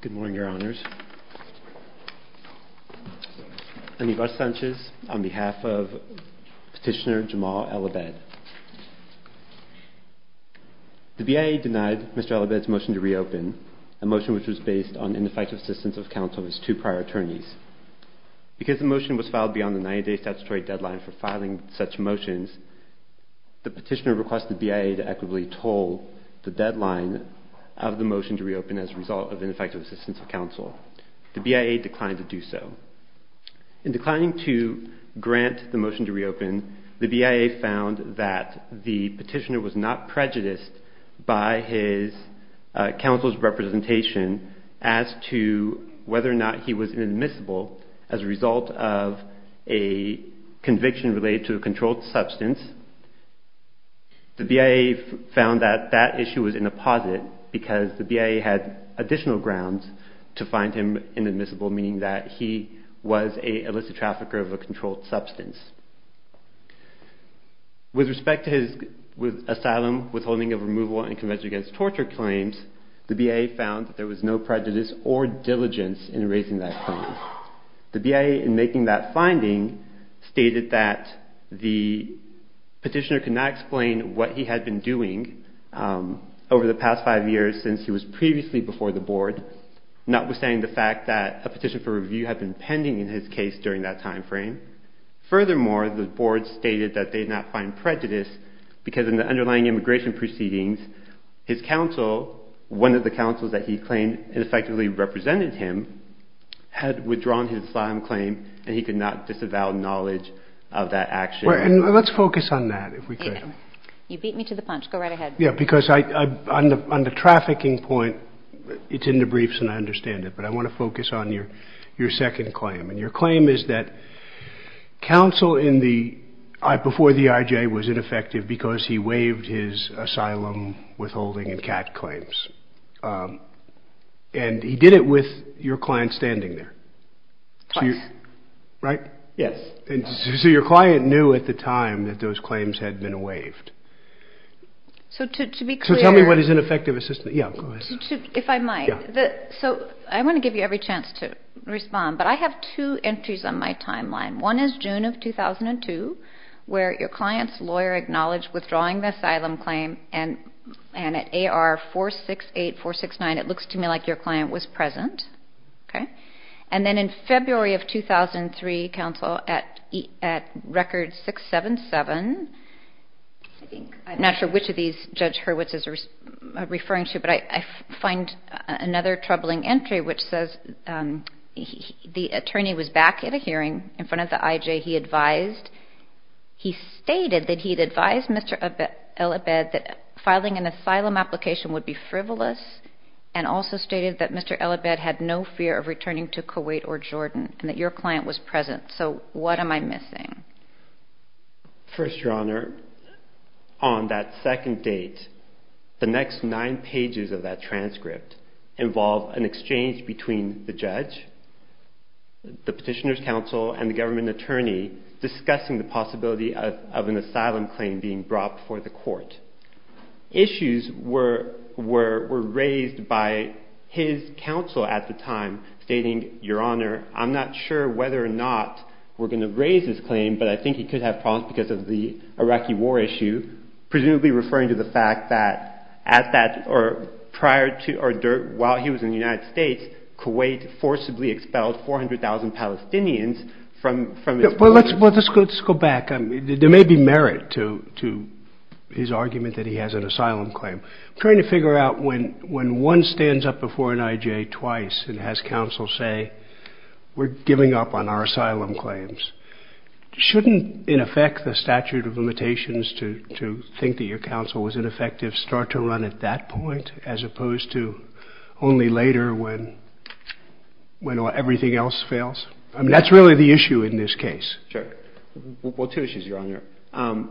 Good morning, Your Honors. Aníbar Sánchez on behalf of Petitioner Jamal El-Abed. The BIA denied Mr. El-Abed's motion to reopen, a motion which was based on ineffective assistance of counsel of his two prior attorneys. Because the motion was filed beyond the 90-day statutory deadline for filing such motions, the petitioner requested the BIA to equitably toll the deadline of the motion to reopen as a result of ineffective assistance of counsel. The BIA declined to do so. In declining to grant the motion to reopen, the BIA found that the petitioner was not prejudiced by his counsel's representation as to whether or not he was inadmissible as a result of a conviction related to a controlled substance. The BIA found that that issue was in the posit because the BIA had additional grounds to find him inadmissible, meaning that he was an illicit trafficker of a controlled substance. With respect to his asylum, withholding of removal, and conviction against torture claims, the BIA found that there was no prejudice or diligence in raising that claim. The BIA, in making that finding, stated that the petitioner could not explain what he had been doing over the past five years since he was previously before the Board, notwithstanding the fact that a petition for review had been pending in his case during that time frame. Furthermore, the Board stated that they did not find prejudice because in the underlying immigration proceedings, his counsel, one of the counsels that he claimed had effectively represented him, had withdrawn his asylum claim and he could not disavow knowledge of that action. Let's focus on that, if we could. You beat me to the punch. Go right ahead. Because on the trafficking point, it's in the briefs and I understand it, but I want to focus on your second claim. And your claim is that counsel before the IJ was ineffective because he waived his asylum, withholding, and CAT claims. And he did it with your client standing there. Twice. Right? Yes. So your client knew at the time that those claims had been waived. So to be clear... So tell me what his ineffective assistance... yeah, go ahead. If I might. Yeah. I'm going to give you every chance to respond, but I have two entries on my timeline. One is June of 2002, where your client's lawyer acknowledged withdrawing the asylum claim and at AR 468, 469, it looks to me like your client was present. And then in February of 2003, counsel, at record 677, I'm not sure which of these Judge Hurwitz is referring to, but I find another troubling entry, which says the attorney was back at a hearing in front of the IJ. He advised... he stated that he'd advised Mr. El Abed that filing an asylum application would be frivolous and also stated that Mr. El Abed had no fear of returning to Kuwait or Jordan and that your client was present. So what am I missing? First, Your Honor, on that second date, the next nine pages of that transcript involve an exchange between the judge, the petitioner's counsel, and the government attorney discussing the possibility of an asylum claim being brought before the court. Issues were raised by his counsel at the time, stating, Your Honor, I'm not sure whether or not we're going to raise this claim but I think he could have problems because of the Iraqi war issue. Presumably referring to the fact that at that or prior to or while he was in the United States, Kuwait forcibly expelled 400,000 Palestinians from its borders. Well, let's go back. There may be merit to his argument that he has an asylum claim. I'm trying to figure out when one stands up before an IJ twice and has counsel say, we're giving up on our asylum claims. Shouldn't, in effect, the statute of limitations to think that your counsel was ineffective start to run at that point as opposed to only later when everything else fails? I mean, that's really the issue in this case. Sure. Well, two issues, Your Honor.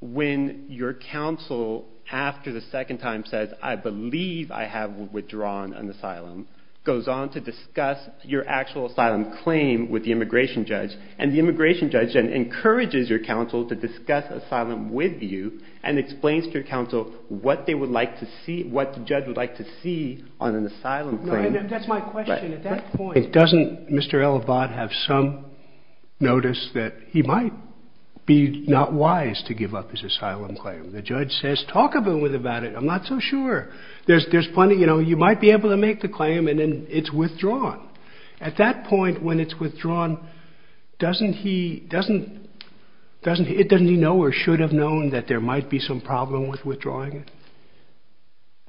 When your counsel, after the second time says, I believe I have withdrawn an asylum, goes on to discuss your actual asylum claim with the immigration judge and the immigration judge then encourages your counsel to discuss asylum with you and explains to your counsel what they would like to see, what the judge would like to see on an asylum claim. That's my question. At that point, doesn't Mr. El Abad have some notice that he might be not wise to give up his asylum claim? The judge says, talk a little bit about it. I'm not so sure. There's plenty. You know, you might be able to make the claim and then it's withdrawn. At that point when it's withdrawn, doesn't he know or should have known that there might be some problem with withdrawing it?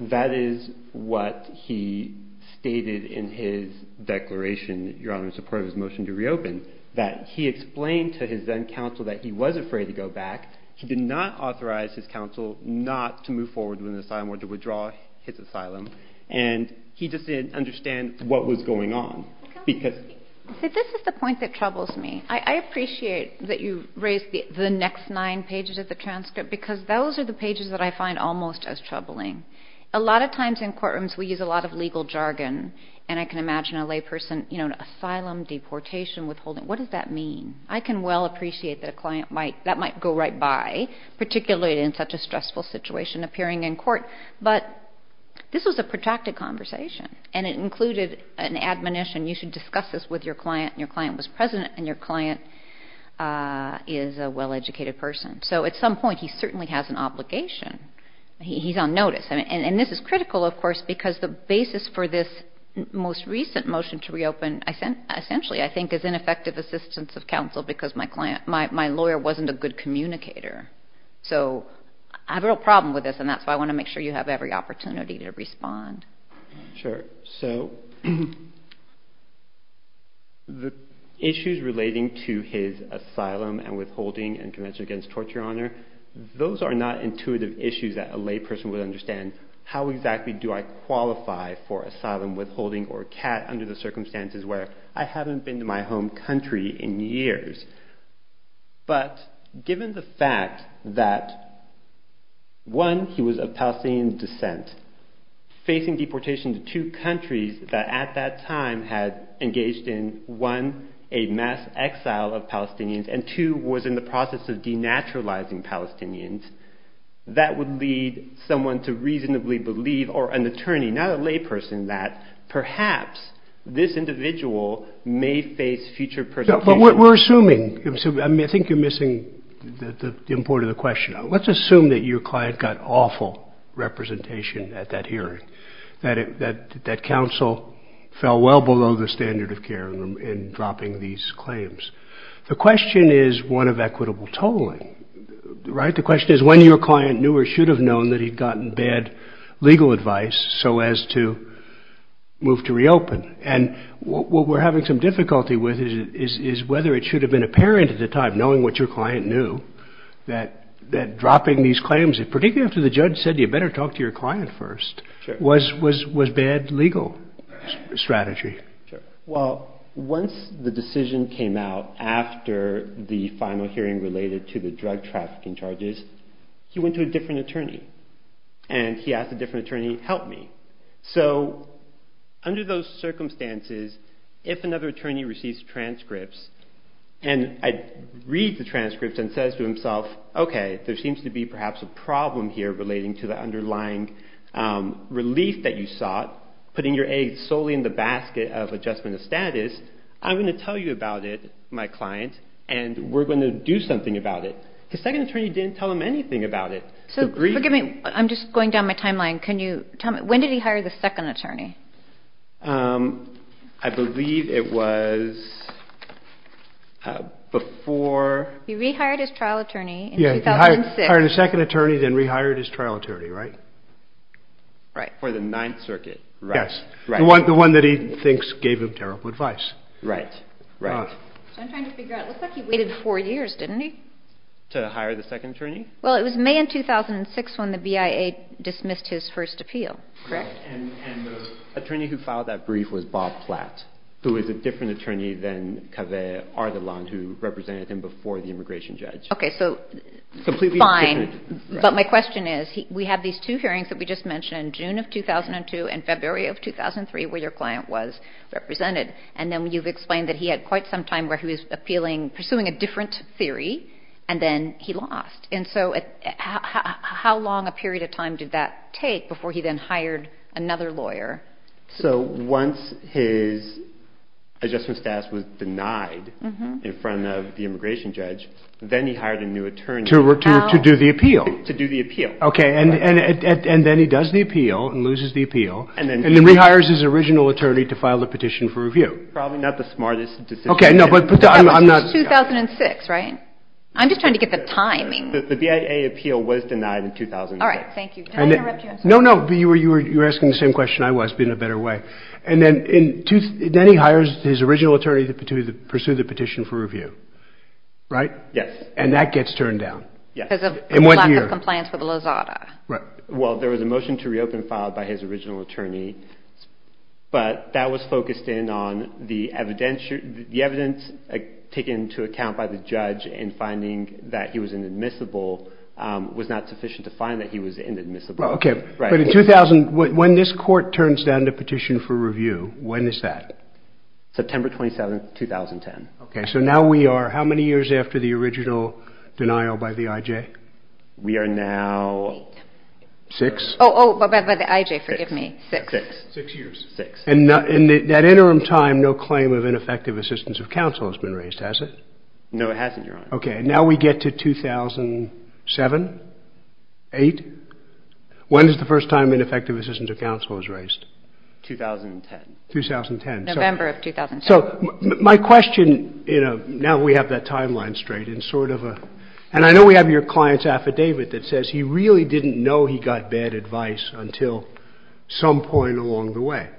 That is what he stated in his declaration, Your Honor, in support of his motion to reopen, that he explained to his then counsel that he was afraid to go back. He did not authorize his counsel not to move forward with an asylum or to withdraw his asylum. And he just didn't understand what was going on. See, this is the point that troubles me. I appreciate that you raised the next nine pages of the transcript because those are the pages that I find almost as troubling. A lot of times in courtrooms we use a lot of legal jargon, and I can imagine a layperson, you know, an asylum, deportation, withholding. What does that mean? I can well appreciate that that might go right by, particularly in such a stressful situation, appearing in court. But this was a protracted conversation, and it included an admonition. You should discuss this with your client. Your client was present, and your client is a well-educated person. So at some point he certainly has an obligation. He's on notice. And this is critical, of course, because the basis for this most recent motion to reopen, essentially, I think, is ineffective assistance of counsel because my lawyer wasn't a good communicator. So I have a real problem with this, and that's why I want to make sure you have every opportunity to respond. Sure. So the issues relating to his asylum and withholding and Convention Against Torture, Your Honor, those are not intuitive issues that a layperson would understand. How exactly do I qualify for asylum, withholding, or CAT under the circumstances where I haven't been to my home country in years? But given the fact that, one, he was of Palestinian descent, facing deportation to two countries that at that time had engaged in, one, a mass exile of Palestinians, and two, was in the process of denaturalizing Palestinians, that would lead someone to reasonably believe, or an attorney, not a layperson, that perhaps this individual may face future persecution. But we're assuming, I mean, I think you're missing the import of the question. Let's assume that your client got awful representation at that hearing, that counsel fell well below the standard of care in dropping these claims. The question is one of equitable tolling, right? The question is when your client knew or should have known that he'd gotten bad legal advice so as to move to reopen. And what we're having some difficulty with is whether it should have been apparent at the time, knowing what your client knew, that dropping these claims, particularly after the judge said you better talk to your client first, was bad legal strategy. Well, once the decision came out after the final hearing related to the drug trafficking charges, he went to a different attorney, and he asked a different attorney, help me. So under those circumstances, if another attorney receives transcripts and reads the transcripts and says to himself, okay, there seems to be perhaps a problem here relating to the underlying relief that you sought, putting your eggs solely in the basket of adjustment of status, I'm going to tell you about it, my client, and we're going to do something about it. The second attorney didn't tell him anything about it. So forgive me, I'm just going down my timeline. When did he hire the second attorney? I believe it was before. He rehired his trial attorney in 2006. He hired a second attorney, then rehired his trial attorney, right? Right. For the Ninth Circuit. Yes. The one that he thinks gave him terrible advice. Right. Right. So I'm trying to figure out, it looks like he waited four years, didn't he? To hire the second attorney? Well, it was May of 2006 when the BIA dismissed his first appeal. Correct? And the attorney who filed that brief was Bob Platt, who is a different attorney than Kaveh Ardalan, who represented him before the immigration judge. Okay, so fine. Completely different. But my question is, we have these two hearings that we just mentioned, June of 2002 and February of 2003, where your client was represented. And then you've explained that he had quite some time where he was pursuing a different theory, and then he lost. And so how long a period of time did that take before he then hired another lawyer? So once his adjustment status was denied in front of the immigration judge, then he hired a new attorney. To do the appeal. To do the appeal. Okay. And then he does the appeal and loses the appeal, and then rehires his original attorney to file a petition for review. Probably not the smartest decision. Okay, no, but I'm not. It was 2006, right? I'm just trying to get the timing. The BIA appeal was denied in 2006. All right, thank you. Did I interrupt you? No, no, you were asking the same question I was, but in a better way. And then he hires his original attorney to pursue the petition for review. Right? Yes. And that gets turned down. Yes. Because of a lack of compliance with LAZADA. Right. Well, there was a motion to reopen filed by his original attorney, but that was focused in on the evidence taken into account by the judge in finding that he was inadmissible was not sufficient to find that he was inadmissible. Okay. Right. But in 2000, when this court turns down the petition for review, when is that? September 27, 2010. Okay, so now we are how many years after the original denial by the IJ? We are now... Eight. Six? Oh, by the IJ, forgive me. Six. Six. Six years. Six. And in that interim time, no claim of ineffective assistance of counsel has been raised, has it? No, it hasn't, Your Honor. Okay, and now we get to 2007? Eight? When is the first time ineffective assistance of counsel was raised? 2010. 2010. November of 2010. So my question, you know, now we have that timeline straight and sort of a... And I know we have your client's affidavit that says he really didn't know he got bad advice until some point along the way.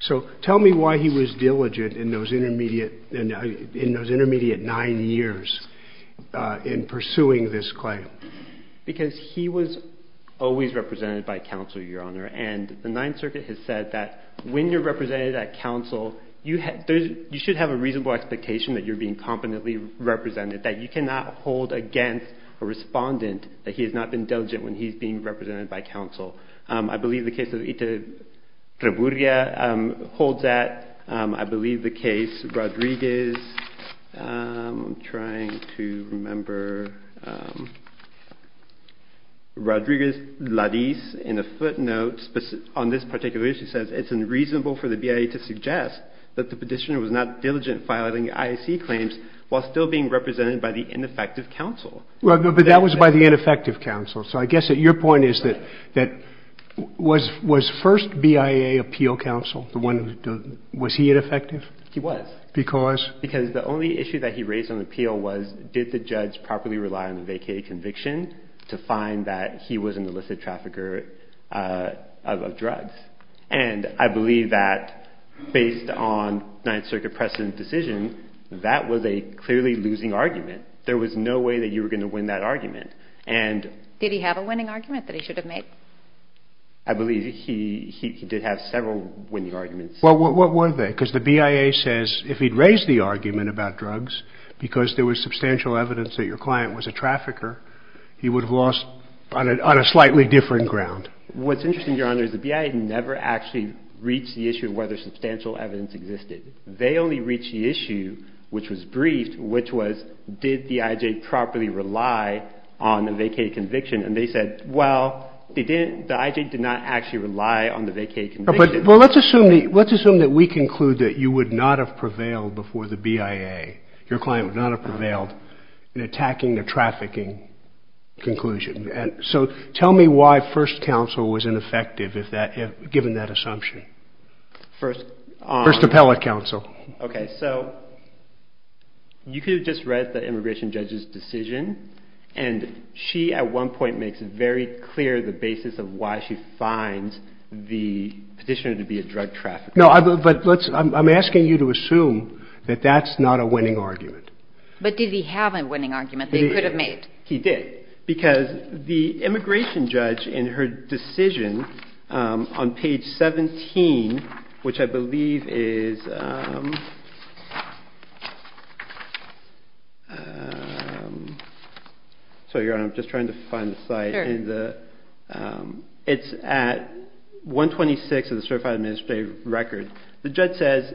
So tell me why he was diligent in those intermediate nine years in pursuing this claim. Because he was always represented by counsel, Your Honor. And the Ninth Circuit has said that when you're represented at counsel, you should have a reasonable expectation that you're being competently represented, that you cannot hold against a respondent that he has not been diligent when he's being represented by counsel. I believe the case of Ita Treburia holds that. I believe the case Rodriguez, I'm trying to remember, Rodriguez-Ladiz, in a footnote on this particular issue, says it's unreasonable for the BIA to suggest that the petitioner was not diligent in filing IAC claims while still being represented by the ineffective counsel. But that was by the ineffective counsel. So I guess your point is that was first BIA appeal counsel the one that was he ineffective? He was. Because? Because the only issue that he raised on appeal was did the judge properly rely on the vacated conviction to find that he was an illicit trafficker of drugs? And I believe that based on Ninth Circuit precedent decision, that was a clearly losing argument. There was no way that you were going to win that argument. And did he have a winning argument that he should have made? I believe he did have several winning arguments. Well, what were they? Because the BIA says if he'd raised the argument about drugs because there was substantial evidence that your client was a trafficker, he would have lost on a slightly different ground. What's interesting, Your Honor, is the BIA never actually reached the issue of whether substantial evidence existed. They only reached the issue, which was briefed, which was did the IJ properly rely on the vacated conviction. And they said, well, the IJ did not actually rely on the vacated conviction. Well, let's assume that we conclude that you would not have prevailed before the BIA, your client would not have prevailed in attacking a trafficking conclusion. So tell me why first counsel was ineffective, given that assumption. First appellate counsel. Okay. So you could have just read the immigration judge's decision, and she at one point makes it very clear the basis of why she finds the petitioner to be a drug trafficker. No, but I'm asking you to assume that that's not a winning argument. But did he have a winning argument that he could have made? He did. Because the immigration judge in her decision on page 17, which I believe is – sorry, Your Honor, I'm just trying to find the slide. Here it is. It's at 126 of the certified administrative record. The judge says,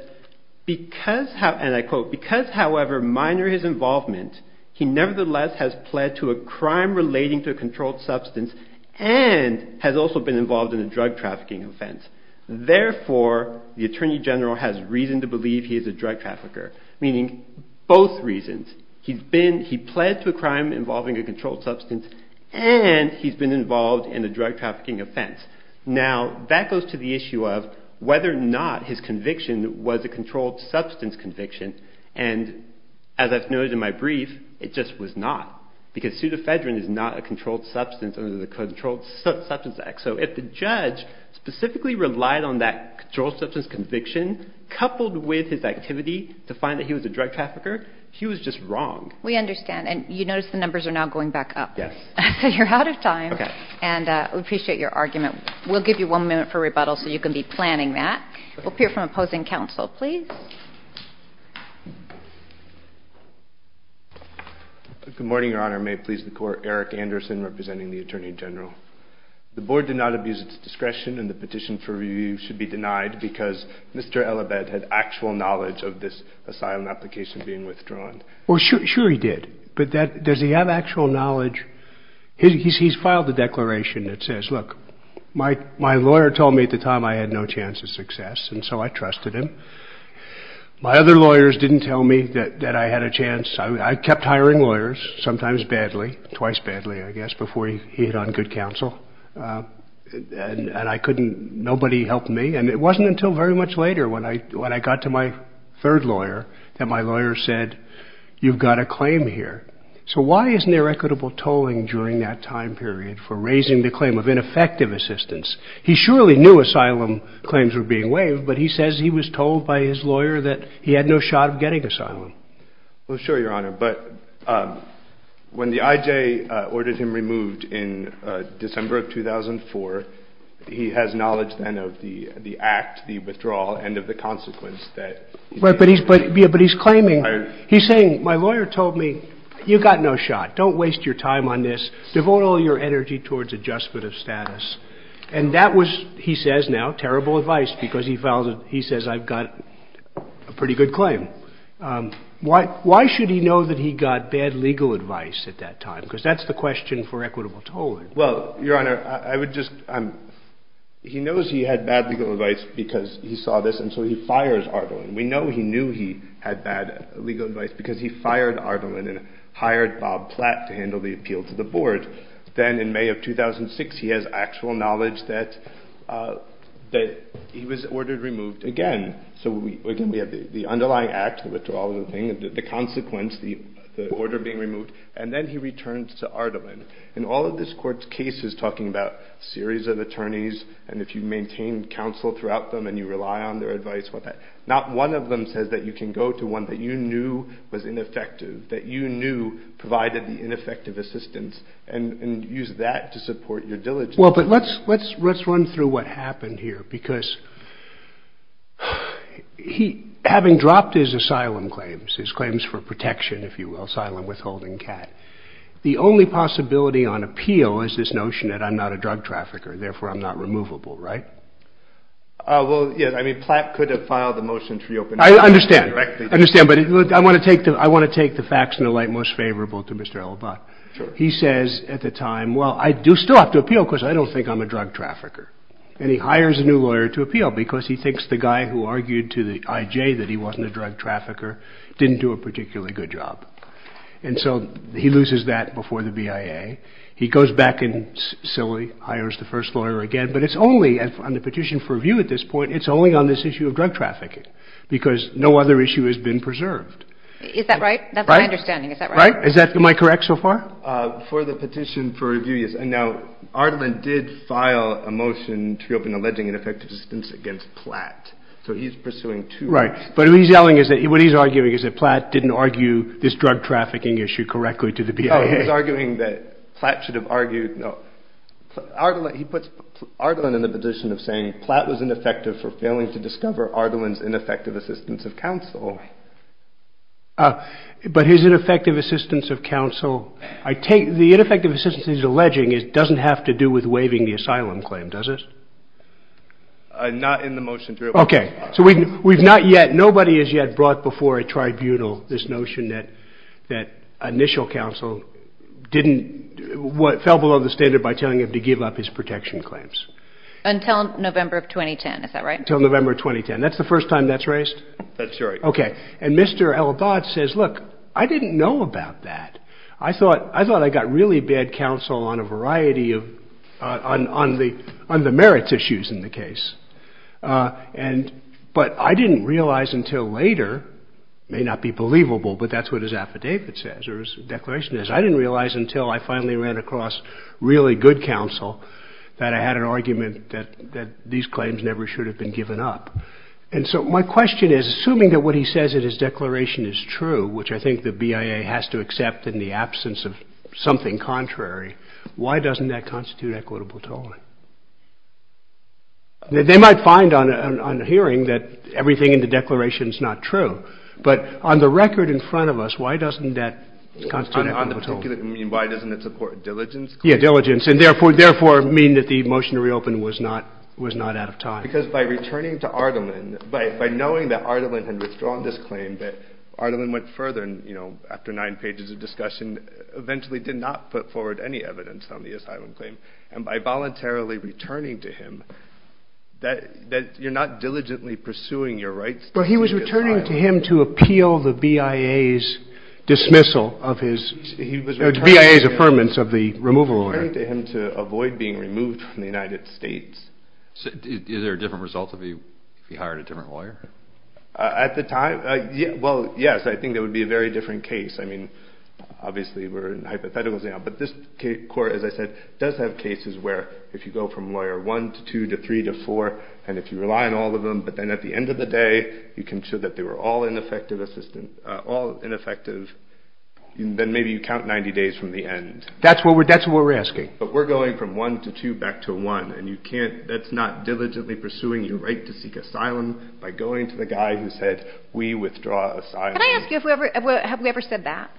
and I quote, because, however minor his involvement, he nevertheless has pled to a crime relating to a controlled substance and has also been involved in a drug trafficking offense. Therefore, the attorney general has reason to believe he is a drug trafficker, meaning both reasons. He pled to a crime involving a controlled substance and he's been involved in a drug trafficking offense. Now, that goes to the issue of whether or not his conviction was a controlled substance conviction. And as I've noted in my brief, it just was not, because pseudoephedrine is not a controlled substance under the Controlled Substance Act. So if the judge specifically relied on that controlled substance conviction coupled with his activity to find that he was a drug trafficker, he was just wrong. We understand. And you notice the numbers are now going back up. Yes. So you're out of time. Okay. And we appreciate your argument. We'll give you one minute for rebuttal so you can be planning that. We'll hear from opposing counsel, please. Good morning, Your Honor. May it please the Court. Eric Anderson representing the attorney general. The board did not abuse its discretion and the petition for review should be denied because Mr. Elabed had actual knowledge of this asylum application being withdrawn. Well, sure he did. But does he have actual knowledge? He's filed a declaration that says, look, my lawyer told me at the time I had no chance of success, and so I trusted him. My other lawyers didn't tell me that I had a chance. I kept hiring lawyers, sometimes badly, twice badly, I guess, before he hit on good counsel. And I couldn't, nobody helped me. And it wasn't until very much later when I got to my third lawyer that my lawyer said, you've got a claim here. So why isn't there equitable tolling during that time period for raising the claim of ineffective assistance? He surely knew asylum claims were being waived, but he says he was told by his lawyer that he had no shot of getting asylum. Well, sure, Your Honor. But when the IJ ordered him removed in December of 2004, he has knowledge then of the act, the withdrawal, and of the consequence that. But he's claiming, he's saying, my lawyer told me, you've got no shot. Don't waste your time on this. Devote all your energy towards adjustment of status. And that was, he says now, terrible advice because he says I've got a pretty good claim. Why should he know that he got bad legal advice at that time? Because that's the question for equitable tolling. Well, Your Honor, I would just, he knows he had bad legal advice because he saw this, and so he fires Ardalan. We know he knew he had bad legal advice because he fired Ardalan and hired Bob Platt to handle the appeal to the board. Then in May of 2006, he has actual knowledge that he was ordered removed again. So again, we have the underlying act, the withdrawal, the consequence, the order being removed. And then he returns to Ardalan. And all of this court's case is talking about a series of attorneys, and if you maintain counsel throughout them, and you rely on their advice, not one of them says that you can go to one that you knew was ineffective, that you knew provided the ineffective assistance, and use that to support your diligence. Well, but let's run through what happened here because he, having dropped his asylum claims, his claims for protection, if you will, asylum withholding cat, the only possibility on appeal is this notion that I'm not a drug trafficker, therefore I'm not removable, right? Well, yes, I mean, Platt could have filed the motion to reopen directly. I understand. I understand, but I want to take the facts in the light most favorable to Mr. Elabat. Sure. He says at the time, well, I do still have to appeal because I don't think I'm a drug trafficker. And he hires a new lawyer to appeal because he thinks the guy who argued to the IJ that he wasn't a drug trafficker didn't do a particularly good job. And so he loses that before the BIA. He goes back and sillily hires the first lawyer again, but it's only, on the petition for review at this point, it's only on this issue of drug trafficking because no other issue has been preserved. Is that right? That's my understanding. Is that right? Am I correct so far? For the petition for review, yes. Now, Ardalan did file a motion to reopen alleging ineffective assistance against Platt. So he's pursuing two. Right. But what he's arguing is that Platt didn't argue this drug trafficking issue correctly to the BIA. Oh, he's arguing that Platt should have argued. No. He puts Ardalan in the position of saying Platt was ineffective for failing to discover Ardalan's ineffective assistance of counsel. But his ineffective assistance of counsel. The ineffective assistance he's alleging doesn't have to do with waiving the asylum claim, does it? Not in the motion to reopen. Okay. So we've not yet, nobody has yet brought before a tribunal this notion that initial counsel didn't, fell below the standard by telling him to give up his protection claims. Until November of 2010. Is that right? Until November of 2010. That's the first time that's raised? That's right. Okay. And Mr. El Abad says, look, I didn't know about that. I thought, I thought I got really bad counsel on a variety of, on the merits issues in the case. And, but I didn't realize until later, may not be believable, but that's what his affidavit says, or his declaration is. I didn't realize until I finally ran across really good counsel that I had an argument that these claims never should have been given up. And so my question is, assuming that what he says in his declaration is true, which I think the BIA has to accept in the absence of something contrary, why doesn't that constitute equitable tolling? They might find on hearing that everything in the declaration is not true. But on the record in front of us, why doesn't that constitute equitable tolling? On the particular, I mean, why doesn't it support diligence? Yeah, diligence. And therefore, therefore mean that the motion to reopen was not, was not out of time. Because by returning to Ardalan, by knowing that Ardalan had withdrawn this claim, that Ardalan went further and, you know, after nine pages of discussion, eventually did not put forward any evidence on the asylum claim. And by voluntarily returning to him, that you're not diligently pursuing your rights. Well, he was returning to him to appeal the BIA's dismissal of his, BIA's affirmance of the removal order. He was returning to him to avoid being removed from the United States. Is there a different result if he hired a different lawyer? At the time, well, yes. I think it would be a very different case. I mean, obviously we're in hypotheticals now. But this court, as I said, does have cases where if you go from lawyer one to two to three to four, and if you rely on all of them, but then at the end of the day you can show that they were all ineffective assistance, all ineffective, then maybe you count 90 days from the end. That's what we're asking. But we're going from one to two back to one, and you can't, that's not diligently pursuing your right to seek asylum by going to the guy who said we withdraw asylum. Can I ask you, have we ever said that?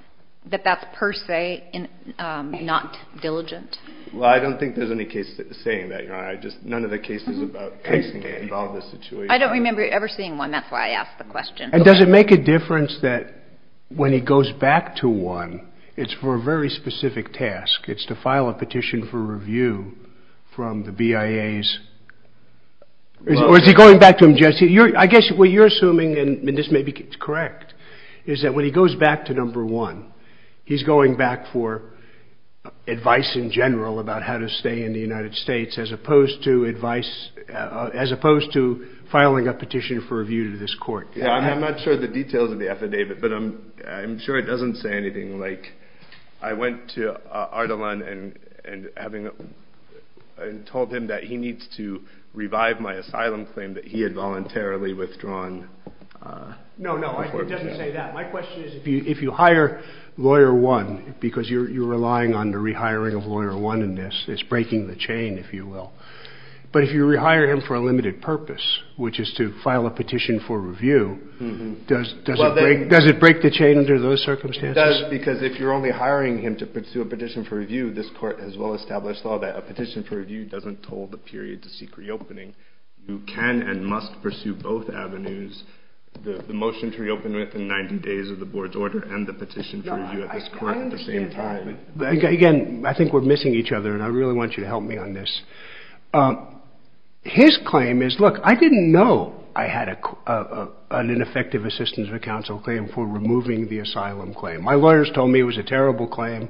That that's per se not diligent? Well, I don't think there's any case saying that, Your Honor. I just, none of the cases about casing involve this situation. I don't remember ever seeing one. That's why I asked the question. And does it make a difference that when he goes back to one, it's for a very specific task. It's to file a petition for review from the BIA's, or is he going back to them, Jesse? I guess what you're assuming, and this may be correct, is that when he goes back to number one, he's going back for advice in general about how to stay in the United States as opposed to advice, as opposed to filing a petition for review to this court. Yeah, I'm not sure of the details of the affidavit, but I'm sure it doesn't say anything like, I went to Ardalan and told him that he needs to revive my asylum claim that he had voluntarily withdrawn. No, no, it doesn't say that. My question is if you hire Lawyer One, because you're relying on the rehiring of Lawyer One in this, it's breaking the chain, if you will. But if you rehire him for a limited purpose, which is to file a petition for review, does it break the chain under those circumstances? It does, because if you're only hiring him to pursue a petition for review, this court has well-established law that a petition for review doesn't toll the period to seek reopening. You can and must pursue both avenues, the motion to reopen within 90 days of the board's order and the petition for review at this court at the same time. Again, I think we're missing each other, and I really want you to help me on this. His claim is, look, I didn't know I had an ineffective assistance of counsel claim for removing the asylum claim. My lawyers told me it was a terrible claim.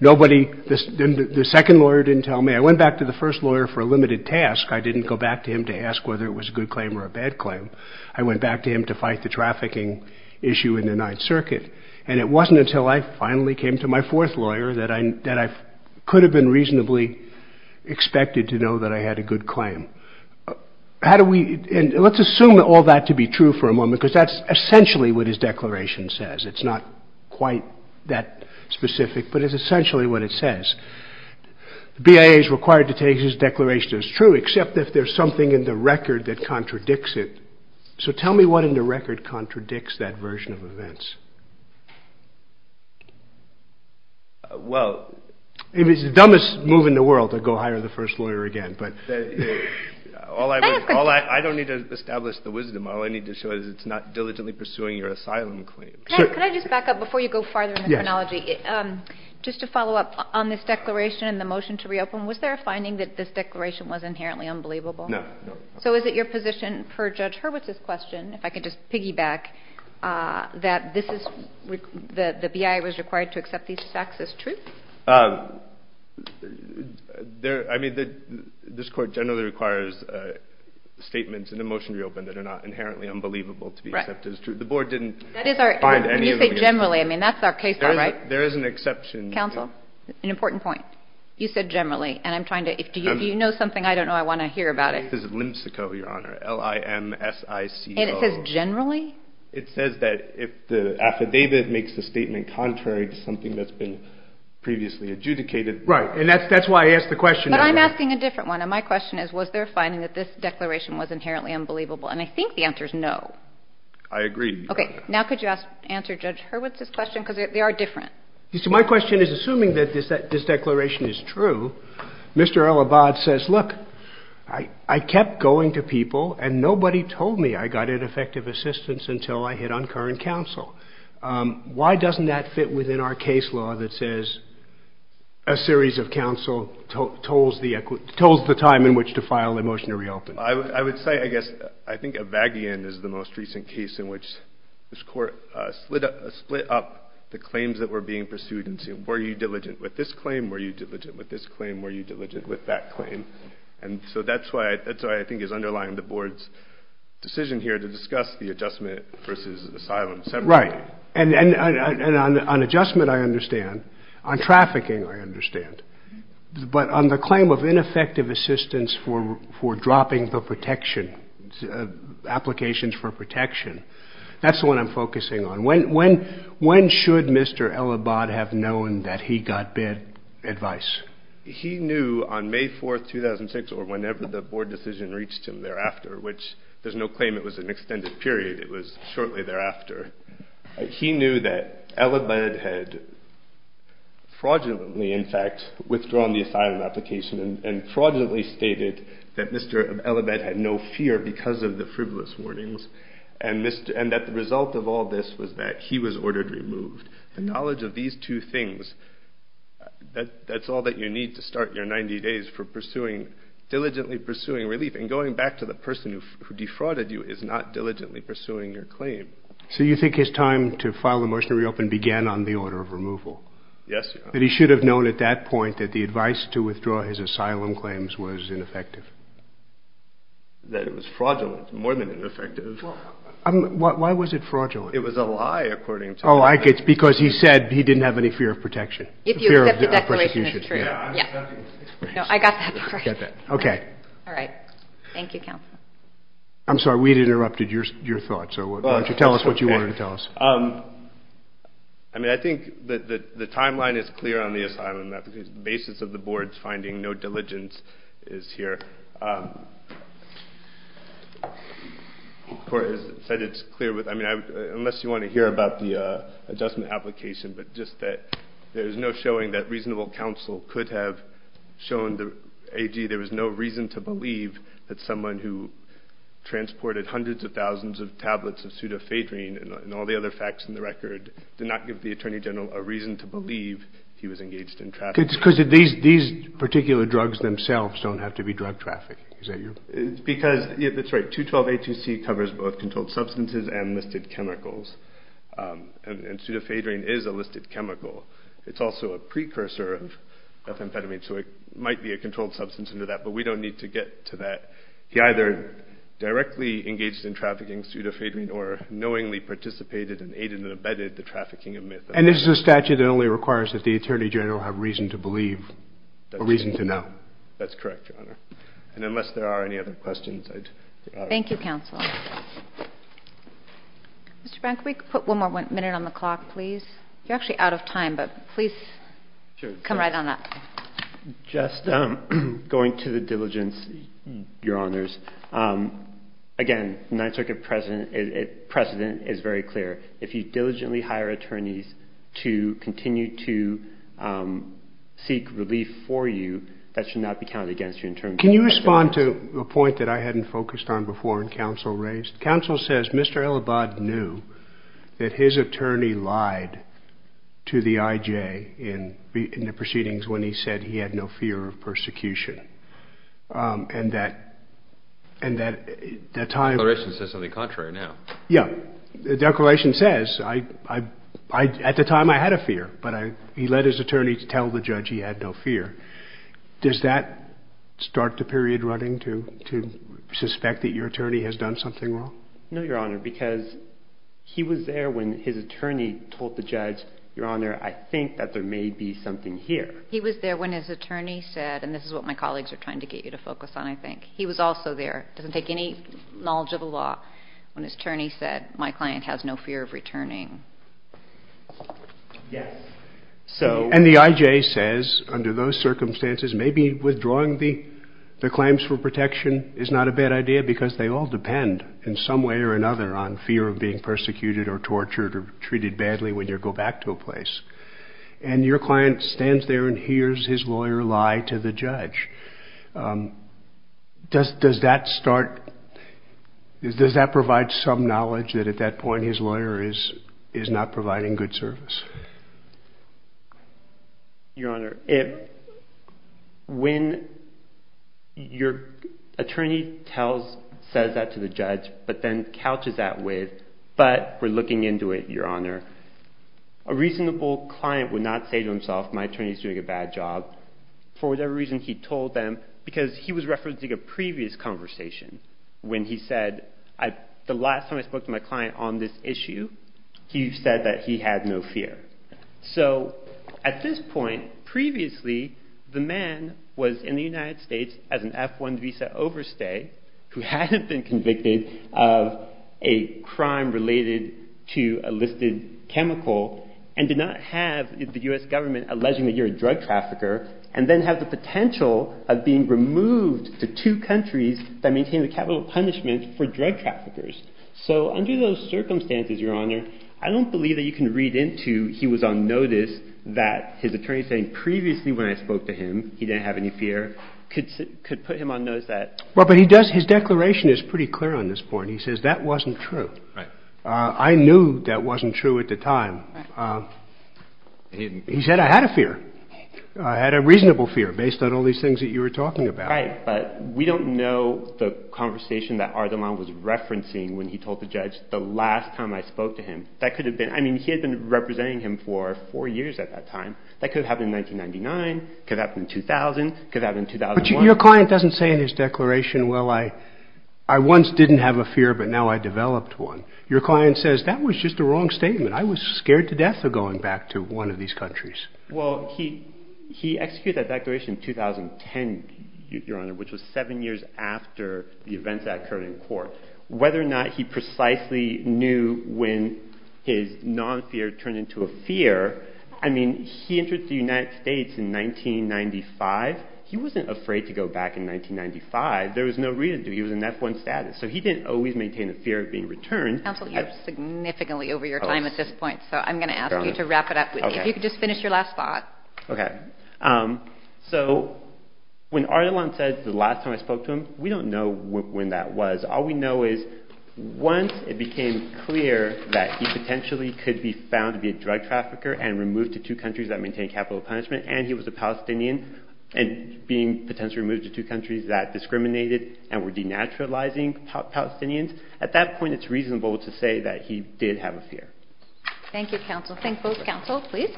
Nobody, the second lawyer didn't tell me. I went back to the first lawyer for a limited task. I didn't go back to him to ask whether it was a good claim or a bad claim. I went back to him to fight the trafficking issue in the Ninth Circuit, and it wasn't until I finally came to my fourth lawyer that I could have been reasonably expected to know that I had a good claim. How do we, and let's assume all that to be true for a moment, because that's essentially what his declaration says. It's not quite that specific, but it's essentially what it says. The BIA is required to take his declaration as true, except if there's something in the record that contradicts it. So tell me what in the record contradicts that version of events. Well. It was the dumbest move in the world to go hire the first lawyer again, but. All I was, all I, I don't need to establish the wisdom. All I need to show is it's not diligently pursuing your asylum claim. Can I just back up before you go farther in the chronology? Just to follow up on this declaration and the motion to reopen, was there a finding that this declaration was inherently unbelievable? No. So is it your position per Judge Hurwitz's question, if I could just piggyback, that this is the BIA was required to accept these facts as truth? There, I mean, this court generally requires statements in the motion to reopen that are not inherently unbelievable to be accepted as true. The board didn't find any of them. You say generally. I mean, that's our case law, right? There is an exception. Counsel, an important point. You said generally, and I'm trying to, if you know something, I don't know, I want to hear about it. This is LIMSICO, Your Honor. L-I-M-S-I-C-O. And it says generally? It says that if the affidavit makes the statement contrary to something that's been previously adjudicated. Right. And that's why I asked the question. But I'm asking a different one. And my question is, was there a finding that this declaration was inherently unbelievable? And I think the answer is no. I agree. Okay. Now could you answer Judge Hurwitz's question? Because they are different. You see, my question is, assuming that this declaration is true, Mr. El Abad says, look, I kept going to people and nobody told me I got ineffective assistance until I hit on current counsel. Why doesn't that fit within our case law that says a series of counsel told the time in which to file a motion to reopen? I would say, I guess, I think Avagian is the most recent case in which this court split up the claims that were being pursued and said, were you diligent with this claim? Were you diligent with this claim? Were you diligent with that claim? And so that's why I think it's underlying the board's decision here to discuss the adjustment versus asylum separately. Right. And on adjustment, I understand. On trafficking, I understand. But on the claim of ineffective assistance for dropping the protection, applications for protection, that's the one I'm focusing on. When should Mr. El Abad have known that he got bad advice? He knew on May 4th, 2006 or whenever the board decision reached him thereafter, which there's no claim it was an extended period. It was shortly thereafter. He knew that El Abad had fraudulently, in fact, withdrawn the asylum application and fraudulently stated that Mr. El Abad had no fear because of the frivolous warnings. And that the result of all this was that he was ordered removed. The knowledge of these two things, that's all that you need to start your 90 days for diligently pursuing relief. And going back to the person who defrauded you is not diligently pursuing your claim. So you think his time to file a motion to reopen began on the order of removal? Yes, Your Honor. That he should have known at that point that the advice to withdraw his asylum claims was ineffective? That it was fraudulent more than ineffective. Why was it fraudulent? It was a lie, according to him. Oh, because he said he didn't have any fear of protection. If you accept the declaration, it's true. Yeah. No, I got that part. Okay. All right. Thank you, counsel. I'm sorry, we interrupted your thoughts. So why don't you tell us what you wanted to tell us. I mean, I think that the timeline is clear on the asylum. The basis of the board's finding no diligence is here. The court has said it's clear. I mean, unless you want to hear about the adjustment application, but just that there's no showing that reasonable counsel could have shown the AG there was no reason to believe that someone who transported hundreds of thousands of tablets of Sudafedrine and all the other facts in the record did not give the Attorney General a reason to believe he was engaged in trafficking. Because these particular drugs themselves don't have to be drug trafficking. Because, that's right, 212-A2C covers both controlled substances and listed chemicals. And Sudafedrine is a listed chemical. It's also a precursor of amphetamine. So it might be a controlled substance under that. But we don't need to get to that. He either directly engaged in trafficking Sudafedrine or knowingly participated and aided and abetted the trafficking of meth. And this is a statute that only requires that the Attorney General have reason to believe or reason to know. That's correct, Your Honor. And unless there are any other questions, I'd be honored. Thank you, counsel. Mr. Brank, could we put one more minute on the clock, please? You're actually out of time, but please come right on up. Just going to the diligence, Your Honors. Again, the Ninth Circuit precedent is very clear. If you diligently hire attorneys to continue to seek relief for you, that should not be counted against you in terms of the precedent. Can you respond to a point that I hadn't focused on before and counsel raised? Counsel says Mr. Elibod knew that his attorney lied to the IJ in the proceedings when he said he had no fear of persecution. And that at the time... The declaration says something contrary now. Yeah. The declaration says, at the time I had a fear, but he led his attorney to tell the judge he had no fear. Does that start the period running to suspect that your attorney has done something wrong? No, Your Honor, because he was there when his attorney told the judge, Your Honor, I think that there may be something here. He was there when his attorney said, and this is what my colleagues are trying to get you to focus on, I think. He was also there, doesn't take any knowledge of the law, when his attorney said, my client has no fear of returning. Yes. And the IJ says, under those circumstances, maybe withdrawing the claims for protection is not a bad idea, because they all depend in some way or another on fear of being persecuted or tortured or treated badly when you go back to a place. And your client stands there and hears his lawyer lie to the judge. Does that start... Does that provide some knowledge that at that point his lawyer is not providing good service? Your Honor, when your attorney tells, says that to the judge, but then couches that with, but we're looking into it, Your Honor, a reasonable client would not say to himself, my attorney is doing a bad job, for whatever reason he told them, because he was referencing a previous conversation when he said, the last time I spoke to my client on this issue, he said that he had no fear. So at this point, previously, the man was in the United States as an F-1 visa overstay who hadn't been convicted of a crime related to a listed chemical and did not have the U.S. government alleging that you're a drug trafficker and then have the potential of being removed to two countries that maintain the capital punishment for drug traffickers. So under those circumstances, Your Honor, I don't believe that you can read into he was on notice that his attorney saying, previously when I spoke to him, he didn't have any fear, could put him on notice that... Well, but he does, his declaration is pretty clear on this point. He says that wasn't true. I knew that wasn't true at the time. He said I had a fear. I had a reasonable fear based on all these things that you were talking about. Right, but we don't know the conversation that Ardalan was referencing when he told the judge, the last time I spoke to him, that could have been, I mean, he had been representing him for four years at that time. That could have happened in 1999, could have happened in 2000, could have happened in 2001. But your client doesn't say in his declaration, well, I once didn't have a fear, but now I developed one. Your client says that was just a wrong statement. I was scared to death of going back to one of these countries. Well, he executed that declaration in 2010, Your Honor, which was seven years after the events that occurred in court. Whether or not he precisely knew when his non-fear turned into a fear, I mean, he entered the United States in 1995. He wasn't afraid to go back in 1995. There was no reason to. He was in F-1 status. So he didn't always maintain a fear of being returned. Counsel, you're significantly over your time at this point, so I'm going to ask you to wrap it up. If you could just finish your last thought. Okay. So when Ardalan said the last time I spoke to him, we don't know when that was. All we know is once it became clear that he potentially could be found to be a drug trafficker and removed to two countries that maintain capital punishment, and he was a Palestinian and being potentially moved to two countries that discriminated and were denaturalizing Palestinians, at that point it's reasonable to say that he did have a fear. Thank you, counsel. Thank both counsels, please,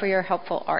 for your helpful argument.